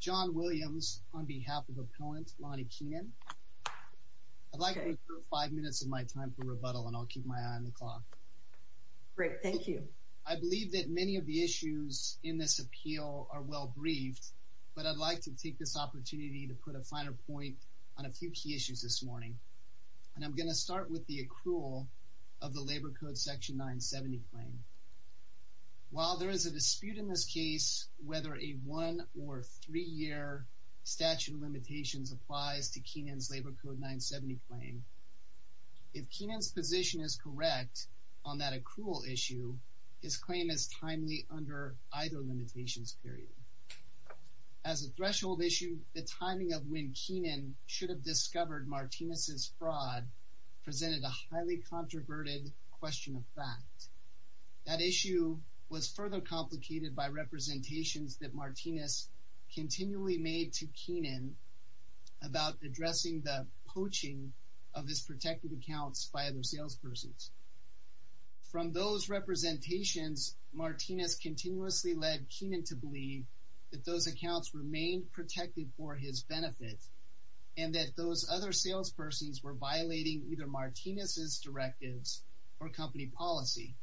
John Williams on behalf of opponent Lonnie Keenan. I'd like to take 5 minutes of my time for rebuttal and I'll keep my eye on the clock. Great. Thank you. I believe that many of the issues in this appeal are well briefed, but I'd like to take this opportunity to put a finer point on a few key issues this morning. And I'm going to start with the accrual of the labor code section 970 claim. While there is a dispute in this case, whether a one or three-year statute of limitations applies to Keenan's labor code 970 claim, if Keenan's position is correct on that accrual issue, his claim is timely under either limitations period. As a threshold issue, the timing of when Keenan should have discovered Martinez's fraud presented a highly controverted question of fact. That issue was further complicated by representations that Martinez continually made to Keenan about addressing the poaching of his protected accounts by other salespersons. From those representations, Martinez continuously led Keenan to believe that those accounts remained protected for his benefit and that those other salespersons were violating either Martinez's directives or company policy.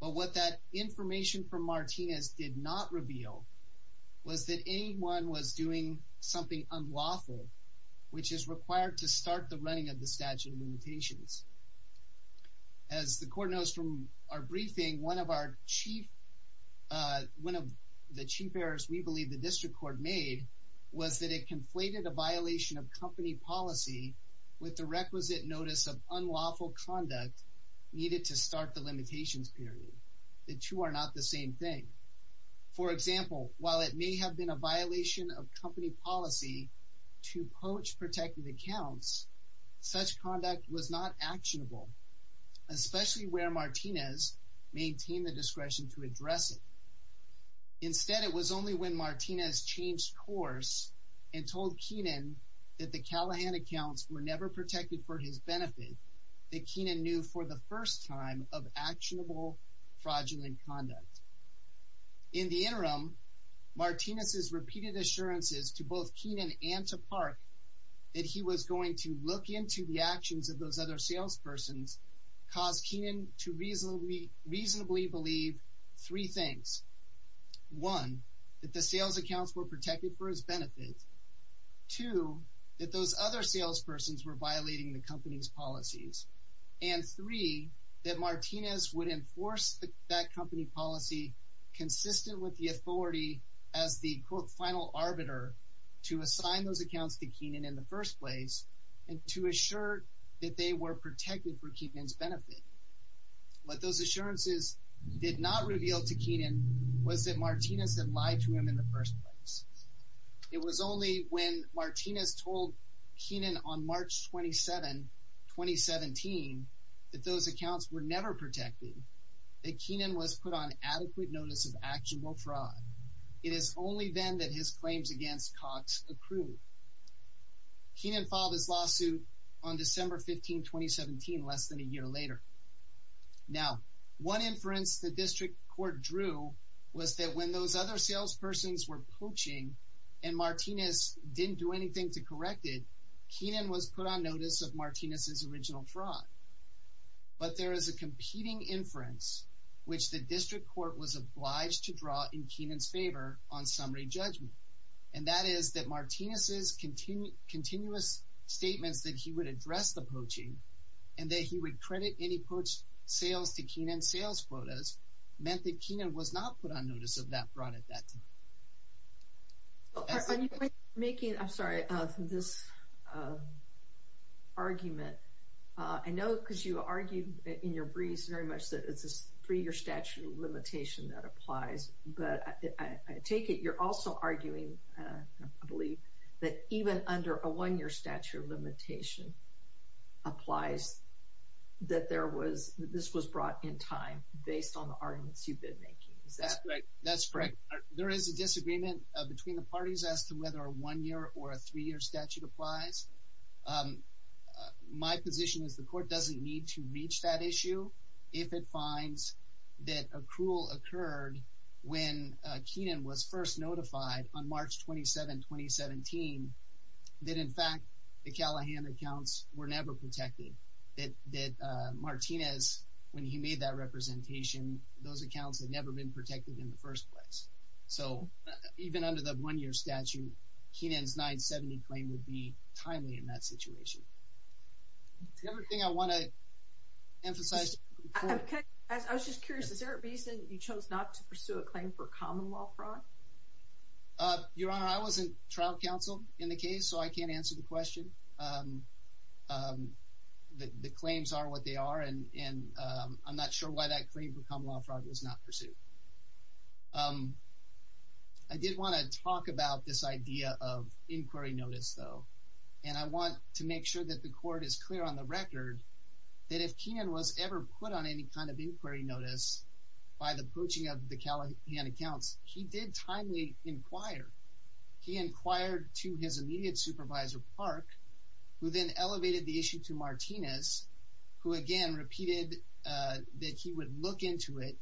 But what that information from Martinez did not reveal was that anyone was doing something unlawful, which is required to start the running of the statute of limitations. As the court knows from our briefing, one of our chief, one of the chief errors we believe the district court made was that it conflated a violation of company policy with the requisite notice of unlawful conduct needed to start the limitations period. The two are not the same thing. For example, while it may have been a violation of company policy to poach protected accounts, such conduct was not actionable, especially where Martinez maintained the discretion to address it. Instead, it was only when Martinez changed course and told Keenan that the Callahan accounts were never protected for his benefit that Keenan knew for the first time of actionable fraudulent conduct. In the interim, Martinez's repeated assurances to both Keenan and to Park that he was going to look into the actions of those other salespersons caused Keenan to reasonably, reasonably believe three things. One, that the sales accounts were protected for his benefit. Two, that those other salespersons were violating the company's policies. And three, that Martinez would enforce that company policy consistent with the authority as the quote final arbiter to assign those accounts to Keenan in the first place and to assure that they were protected for Keenan's benefit. What those assurances did not reveal to Keenan was that Martinez had lied to him in the first place. It was only when Martinez told Keenan on March 27, 2017, that those accounts were never protected, that Keenan was put on adequate notice of actionable fraud. It is only then that his claims against Cox accrued. Keenan filed his lawsuit on December 15, 2017, less than a year later. Now, one inference the was that when those other salespersons were poaching and Martinez didn't do anything to correct it, Keenan was put on notice of Martinez's original fraud. But there is a competing inference which the district court was obliged to draw in Keenan's favor on summary judgment. And that is that Martinez's continuous statements that he would address the poaching and that he would credit any poached sales to Keenan's sales quotas meant that Keenan was not put on notice of that fraud at that time. Dr. Mary Jo Cagler. When you were making, I'm sorry, this argument, I know because you argued in your briefs very much that it's a three-year statute of limitation that applies. But I take it you're also arguing, I believe, that even under a one-year statute of limitation applies that there was, this was brought in time based on the arguments you've been making. Is that correct? Dr. Michael L. Reilly. That's correct. There is a disagreement between the parties as to whether a one-year or a three-year statute applies. My position is the court doesn't need to reach that issue if it finds that accrual occurred when Keenan was first notified on March 27, 2017, that in fact, the Callahan accounts were never protected. That Martinez, when he made that representation, those accounts had never been protected in the first place. So even under the one-year statute, Keenan's 970 claim would be timely in that situation. The other thing I want to emphasize to the court. Dr. Mary Jo Cagler. I was just curious. Is there a reason you chose not to pursue a claim for common law fraud? Dr. Michael L. Reilly. Your Honor, I wasn't trial counsel in the case, so I can't answer the question. The claims are what they are, and I'm not sure why that claim for common law fraud was not pursued. I did want to talk about this idea of inquiry notice, though. And I want to make sure that the court is clear on the record that if Keenan was ever put on any kind of inquiry notice by the poaching of the Callahan accounts, he did timely inquire. He inquired to his immediate supervisor, Park, who then elevated the issue to Martinez, who again repeated that he would look into it,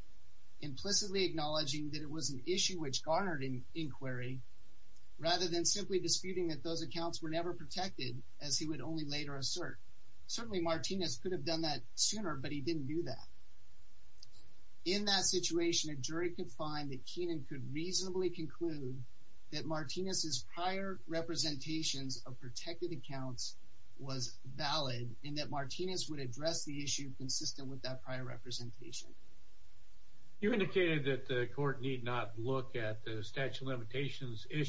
implicitly acknowledging that it was an issue which garnered inquiry, rather than simply disputing that those accounts were never protected, as he would only later assert. Certainly Martinez could have done that sooner, but he didn't do that. In that situation, a jury could find that Keenan could reasonably conclude that Martinez's prior representations of protected accounts was valid, and that Martinez would address the issue consistent Dr. Michael L. Reilly. You indicated that the court need not look at the statute of records for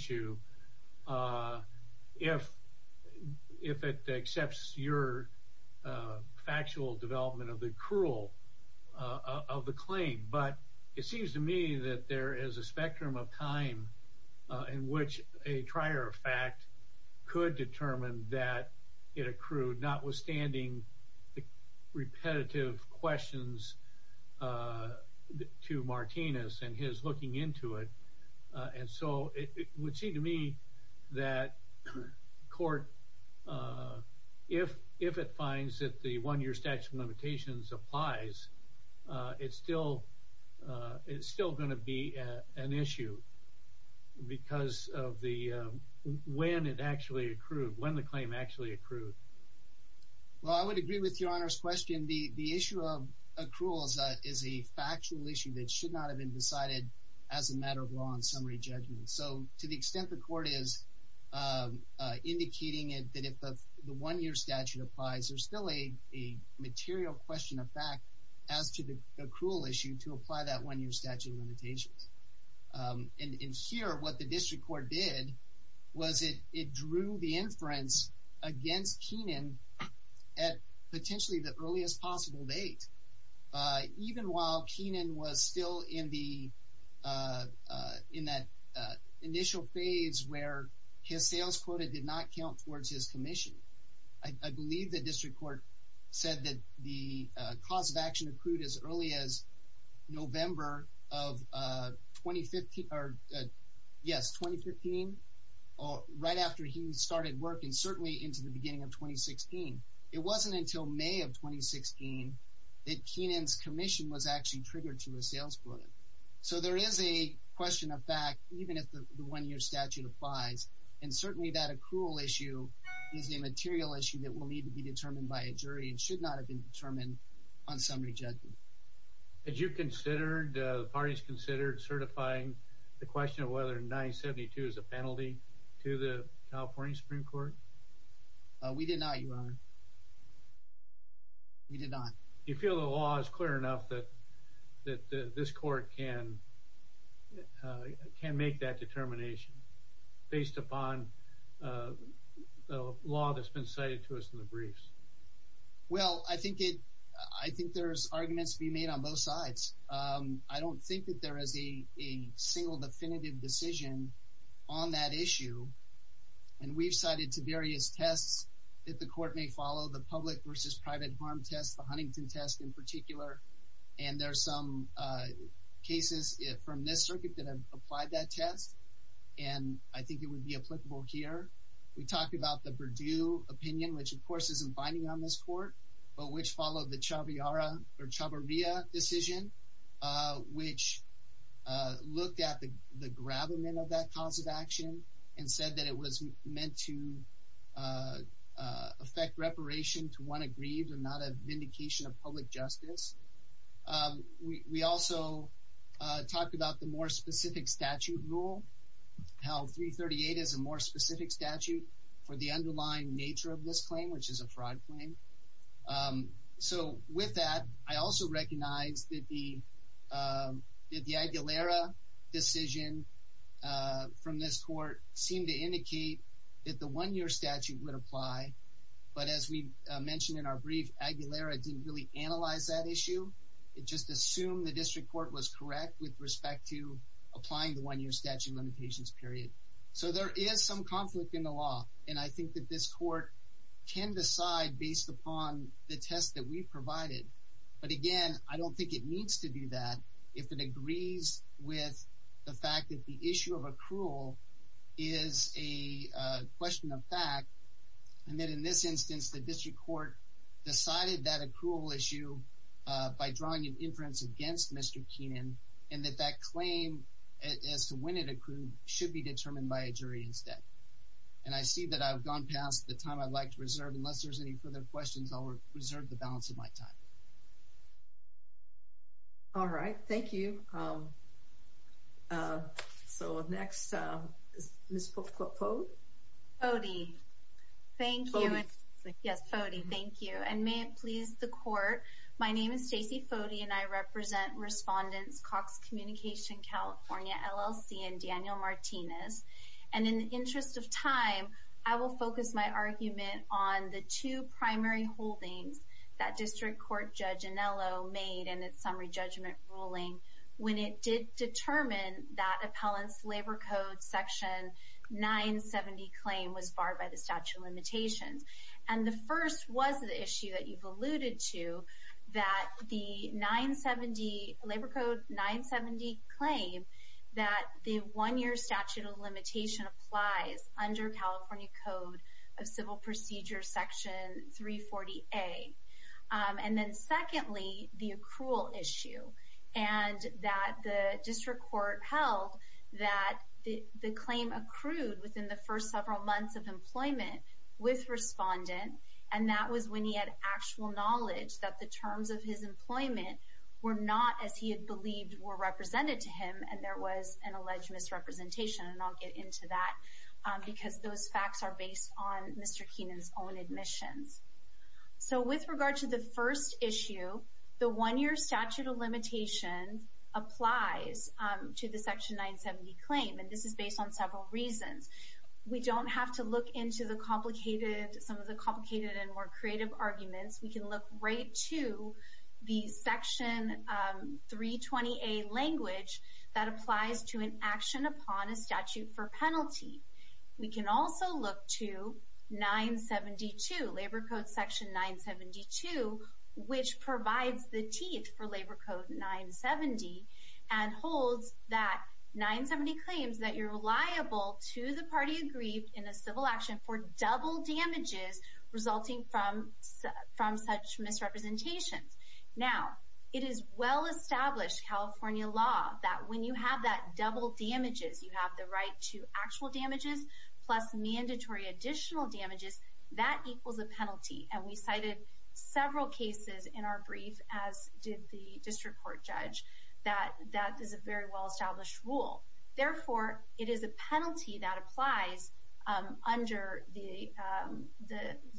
factual development of the accrual of the claim, but it seems to me that there is a spectrum of time in which a prior fact could determine that it accrued, notwithstanding the repetitive questions to Martinez and his looking into it. And so it would seem to me that court, if it finds that the one-year statute of limitations applies, it's still going to be an issue because of when it actually accrued, when the claim actually accrued. Well, I would agree with your Honor's question. The issue of accruals is a factual issue that should not have been decided as a matter of law and summary judgment. So to the extent that the court is indicating it, that if the one-year statute applies, there's still a material question of fact as to the accrual issue to apply that one-year statute of limitations. And here, what the district court did was it drew the inference against Keenan at potentially the earliest possible date. Even while Keenan was still in that initial phase of the process where his sales quota did not count towards his commission. I believe the district court said that the cause of action accrued as early as November of 2015, or yes, 2015, right after he started working, certainly into the beginning of 2016. It wasn't until May of 2016 that Keenan's commission was actually triggered to his sales quota. So there is a question of fact, even if the one-year statute applies, and certainly that accrual issue is a material issue that will need to be determined by a jury and should not have been determined on summary judgment. Had you considered, the parties considered, certifying the question of whether 972 is a penalty to the California Supreme Court? We did not, Your Honor. We did not. You feel the law is clear enough that this court can make that determination based upon the law that's been cited to us in the briefs? Well, I think there's arguments to be made on both sides. I don't think that there is a single definitive decision on that issue. And we've cited to various tests that the test in particular, and there are some cases from this circuit that have applied that test, and I think it would be applicable here. We talked about the Perdue opinion, which of course isn't binding on this court, but which followed the Chavarria decision, which looked at the gravamen of that cause of action and said that it was meant to affect reparation to one aggrieved and not a vindication of public justice. We also talked about the more specific statute rule, how 338 is a more specific statute for the underlying nature of this claim, which is a fraud claim. So with that, I also recognize that the Aguilera decision from this court seemed to indicate that the one-year statute would apply, but as we mentioned in our brief, Aguilera didn't really analyze that issue. It just assumed the district court was correct with respect to applying the one-year statute limitations period. So there is some conflict in the law, and I think that this court can decide based upon the test that we've provided. But again, I don't think it needs to do that if it agrees with the fact that the issue of accrual is a question of fact. And that in this instance, the district court decided that accrual issue by drawing an inference against Mr. Keenan, and that that claim as to when it accrued should be determined by a jury instead. And I see that I've gone past the time I'd like to reserve. Unless there's any further questions, I'll reserve the balance of my time. All right. Thank you. So next is Ms. Pote. Pote, thank you. Yes, Pote, thank you. And may it please the court, my name is Stacey Pote and I represent Respondents Cox Communication California LLC and Daniel Martinez. And in the interest of time, I will focus my argument on the two primary holdings that district court Judge Anello made in its summary judgment ruling when it did determine that the 970 claim was barred by the statute of limitations. And the first was the issue that you've alluded to, that the 970, Labor Code 970 claim, that the one-year statute of limitation applies under California Code of Civil Procedure Section 340A. And then secondly, the accrual for several months of employment with respondent, and that was when he had actual knowledge that the terms of his employment were not as he had believed were represented to him and there was an alleged misrepresentation. And I'll get into that because those facts are based on Mr. Keenan's own admissions. So with regard to the first issue, the one-year statute of limitations applies to the Section 970 claim, and this is based on several reasons. We don't have to look into some of the complicated and more creative arguments. We can look right to the Section 320A language that applies to an action upon a statute for penalty. We can also look to 972, Labor Code Section 972, which provides the teeth for Labor Code 970 and holds that 970 claims that you're liable to the party aggrieved in a civil action for double damages resulting from such misrepresentations. Now, it is well-established California law that when you have that double damages, you have the right to actual damages plus mandatory additional damages, that equals a penalty. And we cited several cases in our brief, as did the district court judge, that that is a very well-established rule. Therefore, it is a penalty that applies under the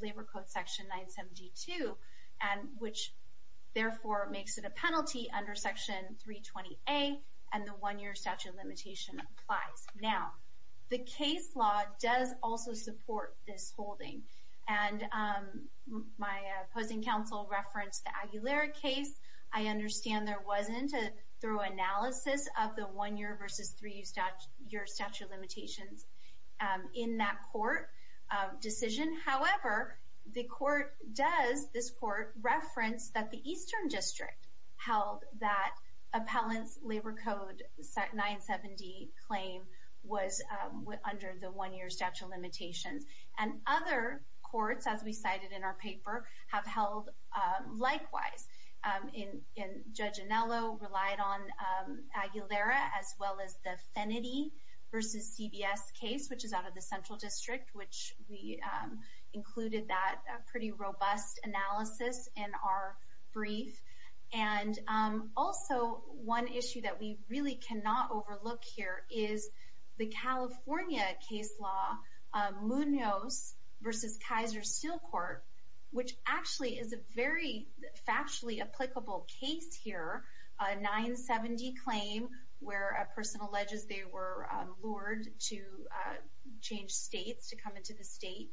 Labor Code Section 972, which therefore makes it a penalty under Section 320A, and the one-year statute of limitation applies. Now, the case law does also support this holding, and my opposing counsel referenced the Aguilera case. I understand there wasn't a thorough analysis of the one-year versus three-year statute of limitations in that court decision. However, the court does, this court referenced that the Eastern District held that appellant's Labor Code 970 claim was under the one-year statute of limitations. And other courts, as we cited in our paper, have held likewise. Judge Anello relied on Aguilera as well as the Fennedy versus CBS case, which is out of the Central District, which we included that pretty robust analysis in our brief. And also, one issue that we really cannot overlook here is the California case law, Munoz versus Kaiser Steel Court, which actually is a very factually applicable case here, a 970 claim where a person alleges they were lured to change states, to come into the state,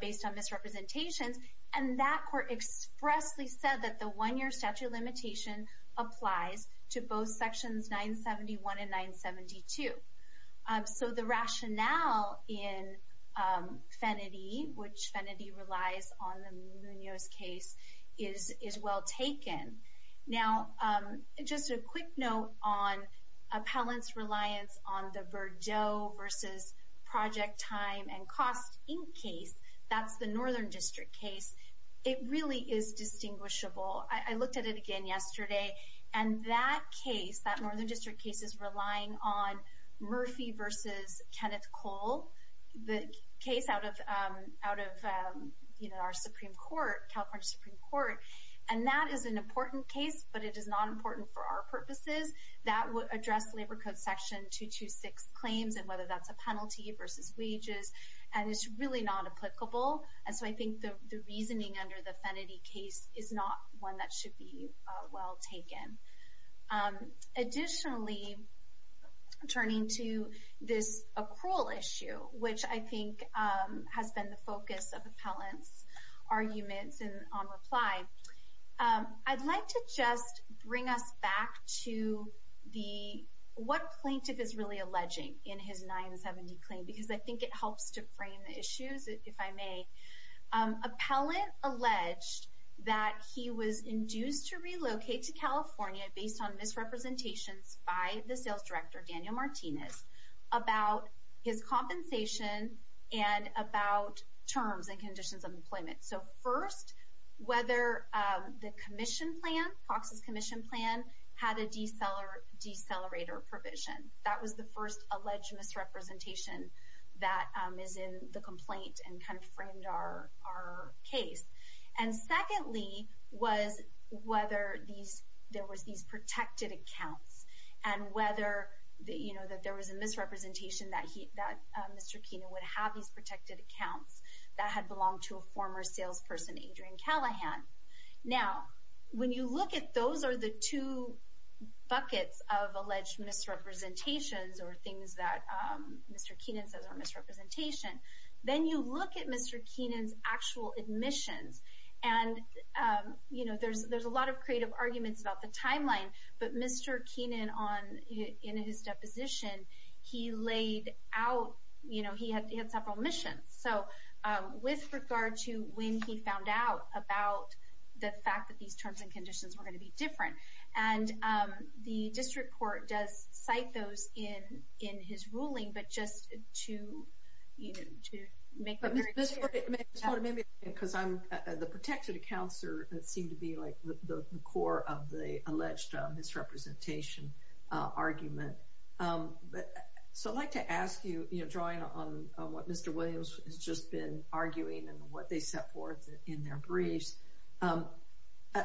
based on misrepresentations. And that court expressly said that the one-year statute of limitation applies to both Sections 971 and 972. So the rationale in Fennedy, which Fennedy relies on in Munoz's case, is well taken. Now, just a quick note on appellant's reliance on the Verdot versus Project Time and Cost Inc. case. That's the Northern District case. It really is distinguishable. I looked at it again yesterday, and that case, that Northern District case, is relying on Murphy versus Kenneth Cole, the case out of our Supreme Court, California Supreme Court. And that is an important case, but it is not important for our purposes. That would address Labor Code Section 226 claims, and whether that's a penalty versus wages. And it's really not applicable. And so I think the reasoning under the Fennedy case is not one that should be well taken. Additionally, turning to this accrual issue, which I think has been the focus of appellant's arguments on reply, I'd like to just bring us back to what plaintiff is really alleging in his 970 claim, because I think it helps to frame the issues, if I may. Appellant alleged that he was induced to relocate to California based on misrepresentations by the sales director, Daniel Martinez, about his compensation and about terms and conditions of employment. So first, whether the commission plan, Cox's commission plan, had a decelerator provision. That was the first alleged misrepresentation that is in the complaint and kind of framed our case. And secondly, was whether there was these protected accounts. And whether there was a misrepresentation that Mr. Keenan would have these protected accounts that had belonged to a former salesperson, Adrian Callahan. Now, when you look at those are the two buckets of alleged misrepresentations or things that Mr. Keenan says are misrepresentation. Then you look at Mr. Keenan's actual admissions. And, you know, there's a lot of creative arguments about the timeline. But Mr. Keenan, in his deposition, he laid out, you know, he had several missions. So with regard to when he found out about the fact that these terms and conditions were going to be different. And the district court does cite those in his ruling. But just to make it very clear. Because the protected accounts seem to be like the core of the alleged misrepresentation argument. So I'd like to ask you, you know, drawing on what Mr. Williams has just been arguing and what they set forth in their briefs.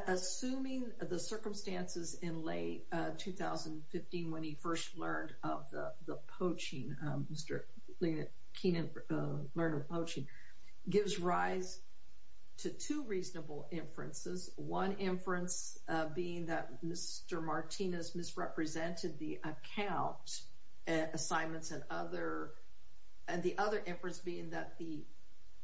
Assuming the circumstances in late 2015 when he first learned of the poaching, Mr. Keenan learned of poaching. Gives rise to two reasonable inferences. One inference being that Mr. Martinez misrepresented the account assignments. And the other inference being that the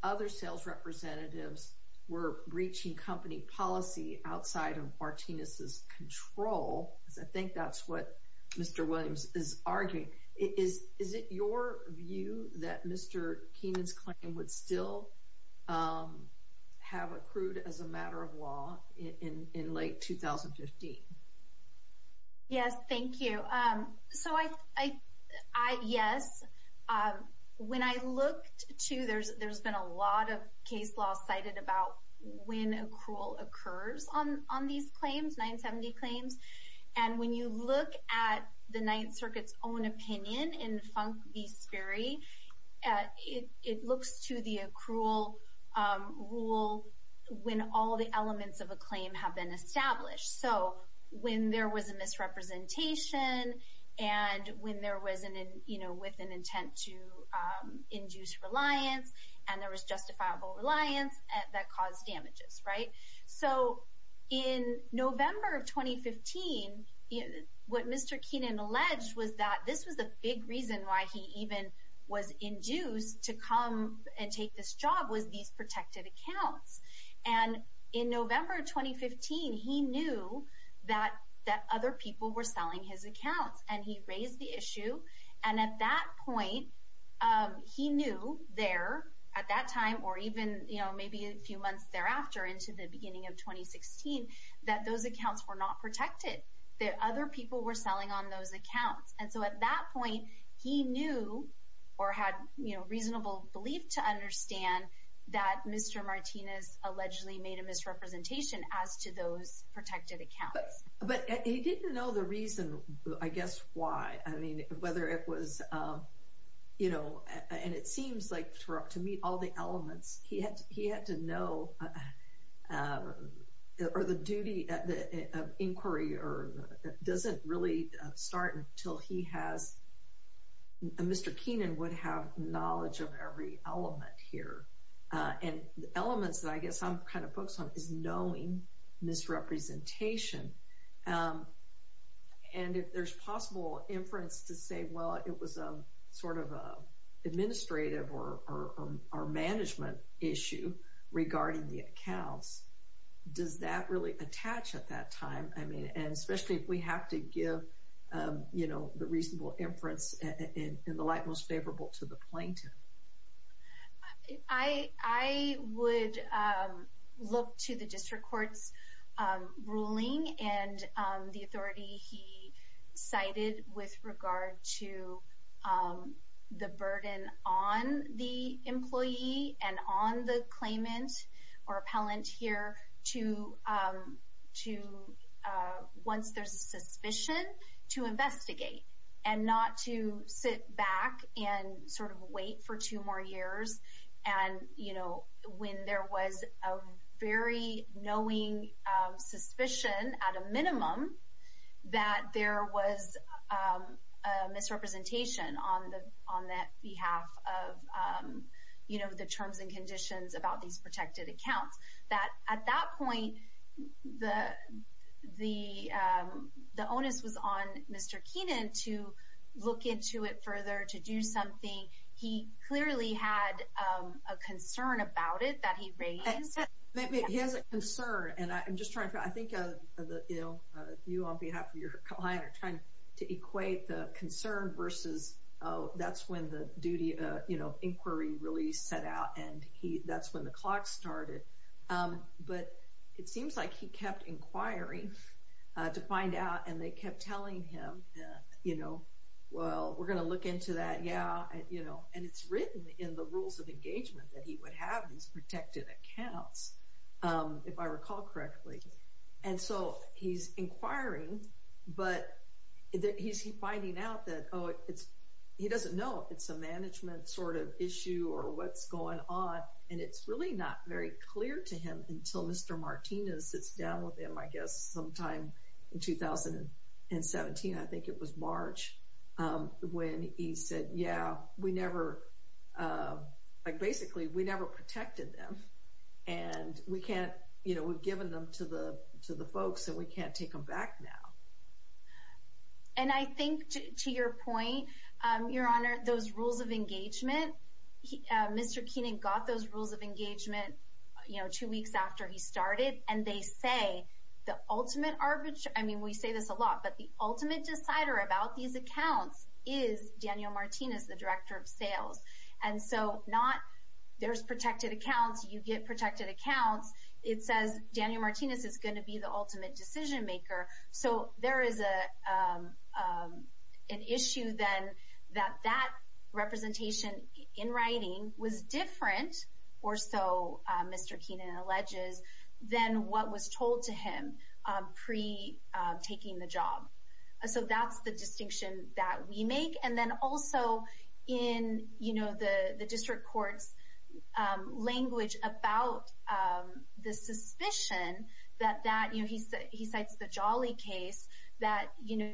other sales representatives were breaching company policy outside of Martinez's control. I think that's what Mr. Williams is arguing. Is it your view that Mr. Keenan's claim would still have accrued as a matter of law in late 2015? Yes, thank you. So I, yes. When I looked to, there's been a lot of case law cited about when accrual occurs on these claims, 970 claims. And when you look at the Ninth Circuit's own opinion in Funk v. Sperry, it looks to the accrual rule when all the elements of a claim have been established. So when there was a misrepresentation and when there was an, you know, with an intent to induce reliance and there was justifiable reliance that caused damages, right? So in November of 2015, what Mr. Keenan alleged was that this was a big reason why he even was induced to come and take this job was these protected accounts. And in November of 2015, he knew that other people were selling his accounts and he raised the issue. And at that point, he knew there at that time or even, you know, maybe a few months thereafter into the beginning of 2016, that those accounts were not protected. That other people were selling on those accounts. And so at that point, he knew or had, you know, reasonable belief to understand that Mr. Martinez allegedly made a misrepresentation as to those protected accounts. But he didn't know the reason, I guess, why. I mean, whether it was, you know, and it seems like to me all the elements he had to know or the duty of inquiry or doesn't really start until he has. Mr. Keenan would have knowledge of every element here and the elements that I guess I'm kind of focused on is knowing misrepresentation. And if there's possible inference to say, well, it was a sort of administrative or management issue regarding the accounts, does that really attach at that time? I mean, and especially if we have to give, you know, the reasonable inference in the light most favorable to the plaintiff. I would look to the district court's ruling and the authority he cited with regard to the burden on the employee and on the claimant or appellant here. Once there's a suspicion, to investigate and not to sit back and sort of wait for two more years. And, you know, when there was a very knowing suspicion at a minimum that there was a misrepresentation on that behalf of, you know, the terms and conditions about these protected accounts. That at that point, the onus was on Mr. Keenan to look into it further, to do something. He clearly had a concern about it that he raised. He has a concern. And I'm just trying to, I think, you know, you on behalf of your client are trying to equate the concern versus, oh, that's when the duty, you know, inquiry really set out. And that's when the clock started. But it seems like he kept inquiring to find out and they kept telling him, you know, well, we're going to look into that. And it's written in the rules of engagement that he would have these protected accounts, if I recall correctly. And so he's inquiring, but he's finding out that, oh, he doesn't know if it's a management sort of issue or what's going on. And it's really not very clear to him until Mr. Martinez sits down with him, I guess, sometime in 2017. I think it was March when he said, yeah, we never, like, basically, we never protected them. And we can't, you know, we've given them to the folks and we can't take them back now. And I think, to your point, Your Honor, those rules of engagement, Mr. Keenan got those rules of engagement, you know, two weeks after he started. And they say the ultimate, I mean, we say this a lot, but the ultimate decider about these accounts is Daniel Martinez, the Director of Sales. And so not, there's protected accounts, you get protected accounts. It says Daniel Martinez is going to be the ultimate decision maker. So there is an issue, then, that that representation in writing was different, or so Mr. Keenan alleges, than what was told to him pre-taking the job. So that's the distinction that we make. And then also, in, you know, the district court's language about the suspicion that that, you know, he cites the Jolly case, that, you know,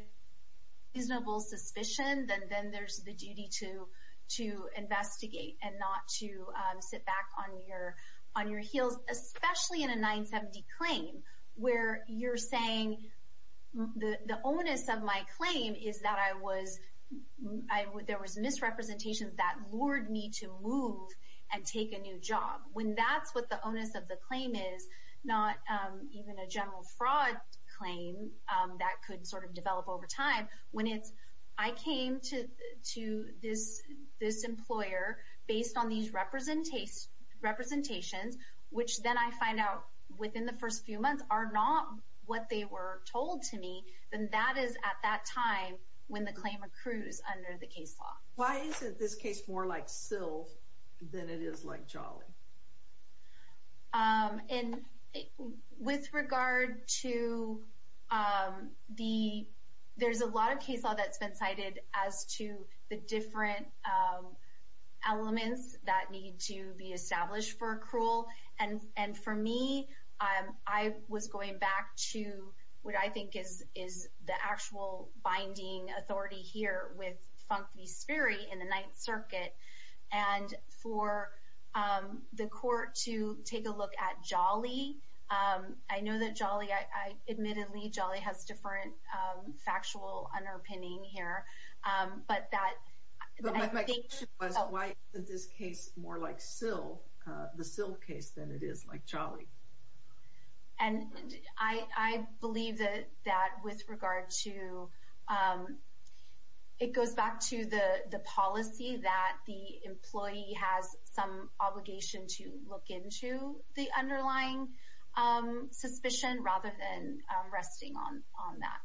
reasonable suspicion, then there's the duty to investigate and not to sit back on your heels. Especially in a 970 claim, where you're saying the onus of my claim is that I was, there was misrepresentations that lured me to move and take a new job. When that's what the onus of the claim is, not even a general fraud claim that could sort of develop over time. When it's, I came to this employer based on these representations, which then I find out within the first few months are not what they were told to me, then that is at that time when the claim accrues under the case law. Why isn't this case more like SILV than it is like Jolly? And with regard to the, there's a lot of case law that's been cited as to the different elements that need to be established for accrual. And for me, I was going back to what I think is the actual binding authority here with Funke v. Sperry in the Ninth Circuit. And for the court to take a look at Jolly, I know that Jolly, I admittedly, Jolly has different factual underpinning here. But that, I think. But my question was, why isn't this case more like SILV, the SILV case than it is like Jolly? And I believe that with regard to, it goes back to the policy that the employee has some obligation to look into the underlying suspicion rather than resting on that.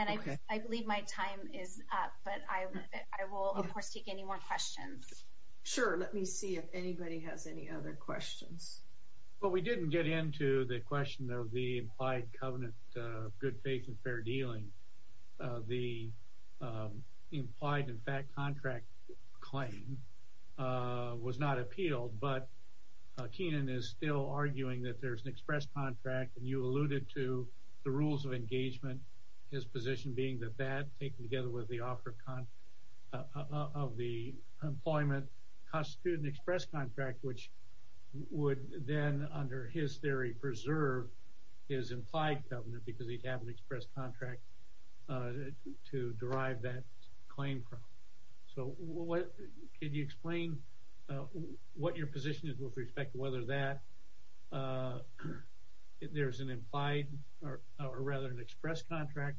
And I believe my time is up, but I will, of course, take any more questions. Sure, let me see if anybody has any other questions. Well, we didn't get into the question of the implied covenant good faith and fair dealing. The implied in fact contract claim was not appealed, but Keenan is still arguing that there's an express contract. And you alluded to the rules of engagement, his position being that that taken together with the offer of the employment constitute an express contract, which would then, under his theory, preserve his implied covenant because he'd have an express contract to derive that claim from. So what, could you explain what your position is with respect to whether that there's an implied or rather an express contract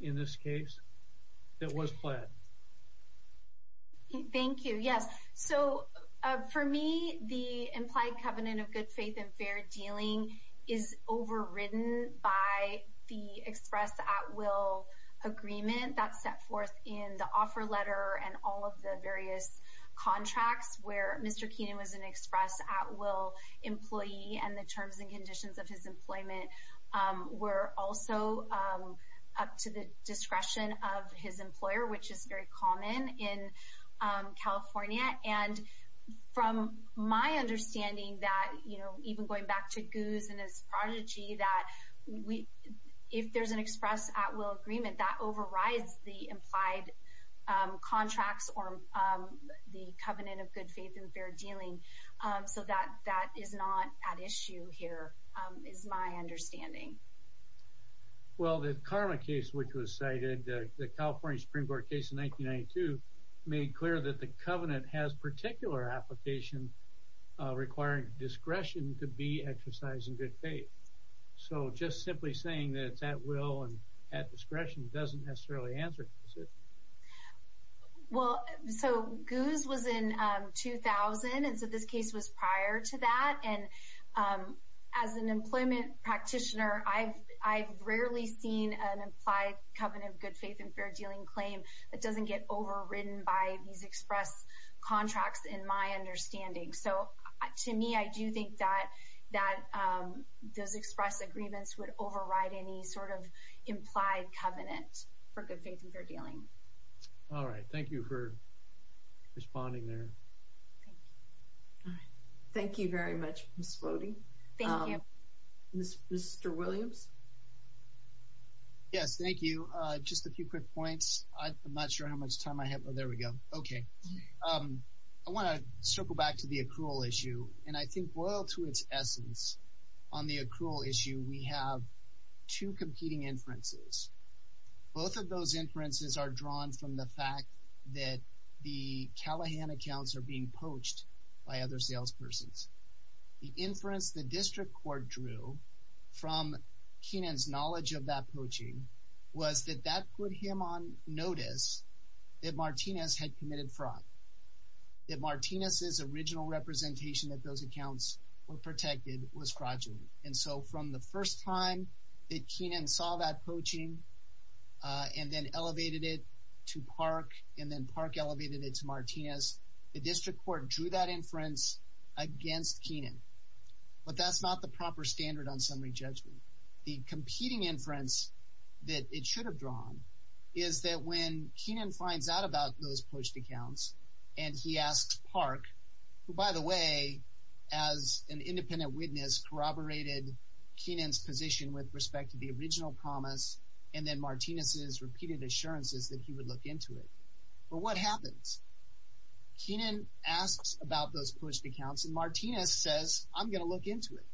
in this case that was pled? Thank you. Yes. So for me, the implied covenant of good faith and fair dealing is overridden by the express at will agreement that's set forth in the offer letter and all of the various contracts where Mr. Keenan was an express at will employee and the terms and conditions of his employment were also up to the discretion of his employer, which is very common in California. And from my understanding that, you know, even going back to Goose and his prodigy, that if there's an express at will agreement that overrides the implied contracts or the covenant of good faith and fair dealing. So that that is not at issue here is my understanding. Well, the Karma case, which was cited, the California Supreme Court case in 1992, made clear that the covenant has particular application requiring discretion to be exercised in good faith. So just simply saying that it's at will and at discretion doesn't necessarily answer it. Well, so Goose was in 2000. And so this case was prior to that. And as an employment practitioner, I've I've rarely seen an implied covenant, good faith and fair dealing claim that doesn't get overridden by these express contracts, in my understanding. So to me, I do think that that does express agreements would override any sort of implied covenant for good faith and fair dealing. All right. Thank you for responding there. All right. Thank you very much. Mr. Williams. Yes, thank you. Just a few quick points. I'm not sure how much time I have. Oh, there we go. OK. I want to circle back to the accrual issue. And I think loyal to its essence on the accrual issue, we have two competing inferences. Both of those inferences are drawn from the fact that the Callahan accounts are being poached by other salespersons. The inference the district court drew from Kenan's knowledge of that poaching was that that put him on notice that Martinez had committed fraud. That Martinez's original representation that those accounts were protected was fraudulent. And so from the first time that Kenan saw that poaching and then elevated it to Park and then Park elevated it to Martinez, the district court drew that inference against Kenan. But that's not the proper standard on summary judgment. The competing inference that it should have drawn is that when Kenan finds out about those poached accounts and he asks Park, who, by the way, as an independent witness, corroborated Kenan's position with respect to the original promise and then Martinez's repeated assurances that he would look into it. Well, what happens? Kenan asks about those poached accounts and Martinez says, I'm going to look into it.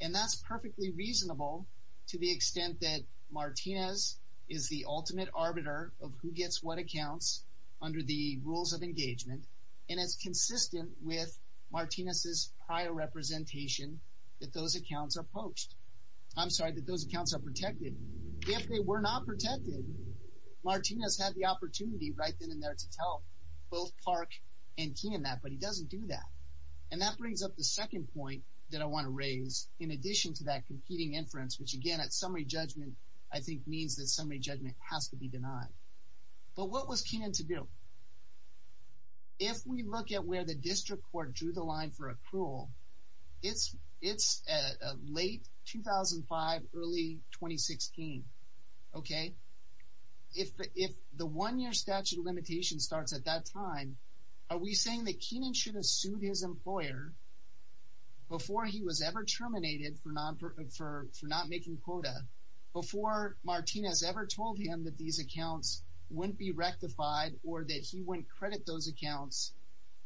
And that's perfectly reasonable to the extent that Martinez is the ultimate arbiter of who gets what accounts under the rules of engagement. And it's consistent with Martinez's prior representation that those accounts are poached. I'm sorry, that those accounts are protected. If they were not protected, Martinez had the opportunity right then and there to tell both Park and Kenan that, but he doesn't do that. And that brings up the second point that I want to raise in addition to that competing inference, which again, at summary judgment, I think means that summary judgment has to be denied. But what was Kenan to do? If we look at where the district court drew the line for approval, it's late 2005, early 2016. Okay? If the one-year statute of limitations starts at that time, are we saying that Kenan should have sued his employer before he was ever terminated for not making quota? Before Martinez ever told him that these accounts wouldn't be rectified or that he wouldn't credit those accounts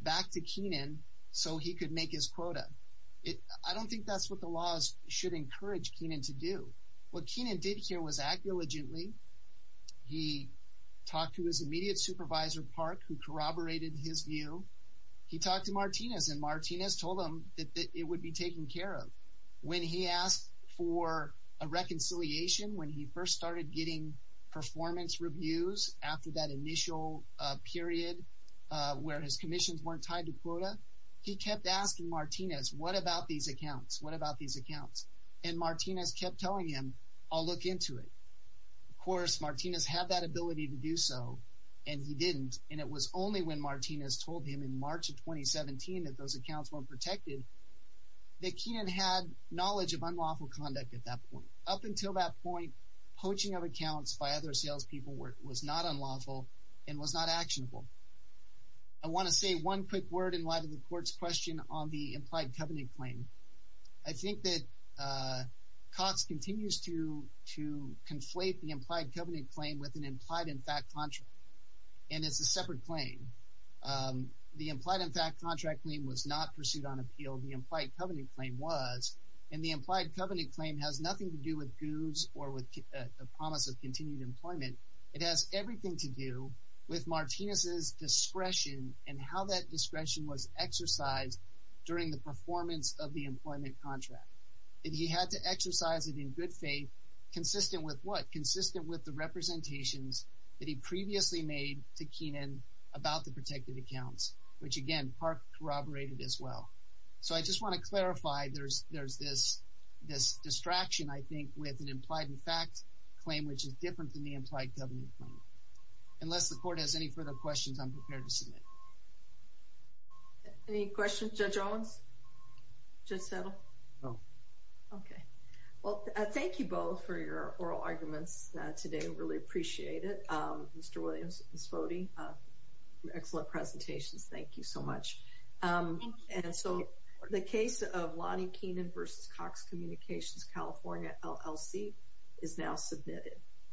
back to Kenan so he could make his quota? I don't think that's what the laws should encourage Kenan to do. What Kenan did here was act diligently. He talked to his immediate supervisor, Park, who corroborated his view. He talked to Martinez, and Martinez told him that it would be taken care of. When he asked for a reconciliation, when he first started getting performance reviews after that initial period where his commissions weren't tied to quota, he kept asking Martinez, what about these accounts? What about these accounts? And Martinez kept telling him, I'll look into it. Of course, Martinez had that ability to do so, and he didn't. And it was only when Martinez told him in March of 2017 that those accounts weren't protected that Kenan had knowledge of unlawful conduct at that point. Up until that point, poaching of accounts by other salespeople was not unlawful and was not actionable. I want to say one quick word in light of the court's question on the implied covenant claim. I think that Cox continues to conflate the implied covenant claim with an implied in fact contract, and it's a separate claim. The implied in fact contract claim was not pursued on appeal. The implied covenant claim was, and the implied covenant claim has nothing to do with goods or with the promise of continued employment. It has everything to do with Martinez's discretion and how that discretion was exercised during the performance of the employment contract. And he had to exercise it in good faith, consistent with what? Consistent with the representations that he previously made to Kenan about the protected accounts, which again, Park corroborated as well. So I just want to clarify there's this distraction, I think, with an implied in fact claim, which is different than the implied covenant claim. Unless the court has any further questions, I'm prepared to submit. Any questions? Judge Owens? Judge Settle? No. Okay. Well, thank you both for your oral arguments today. I really appreciate it. Mr. Williams, Ms. Foti, excellent presentations. Thank you so much. And so the case of Lonnie Kenan v. Cox Communications, California LLC is now submitted.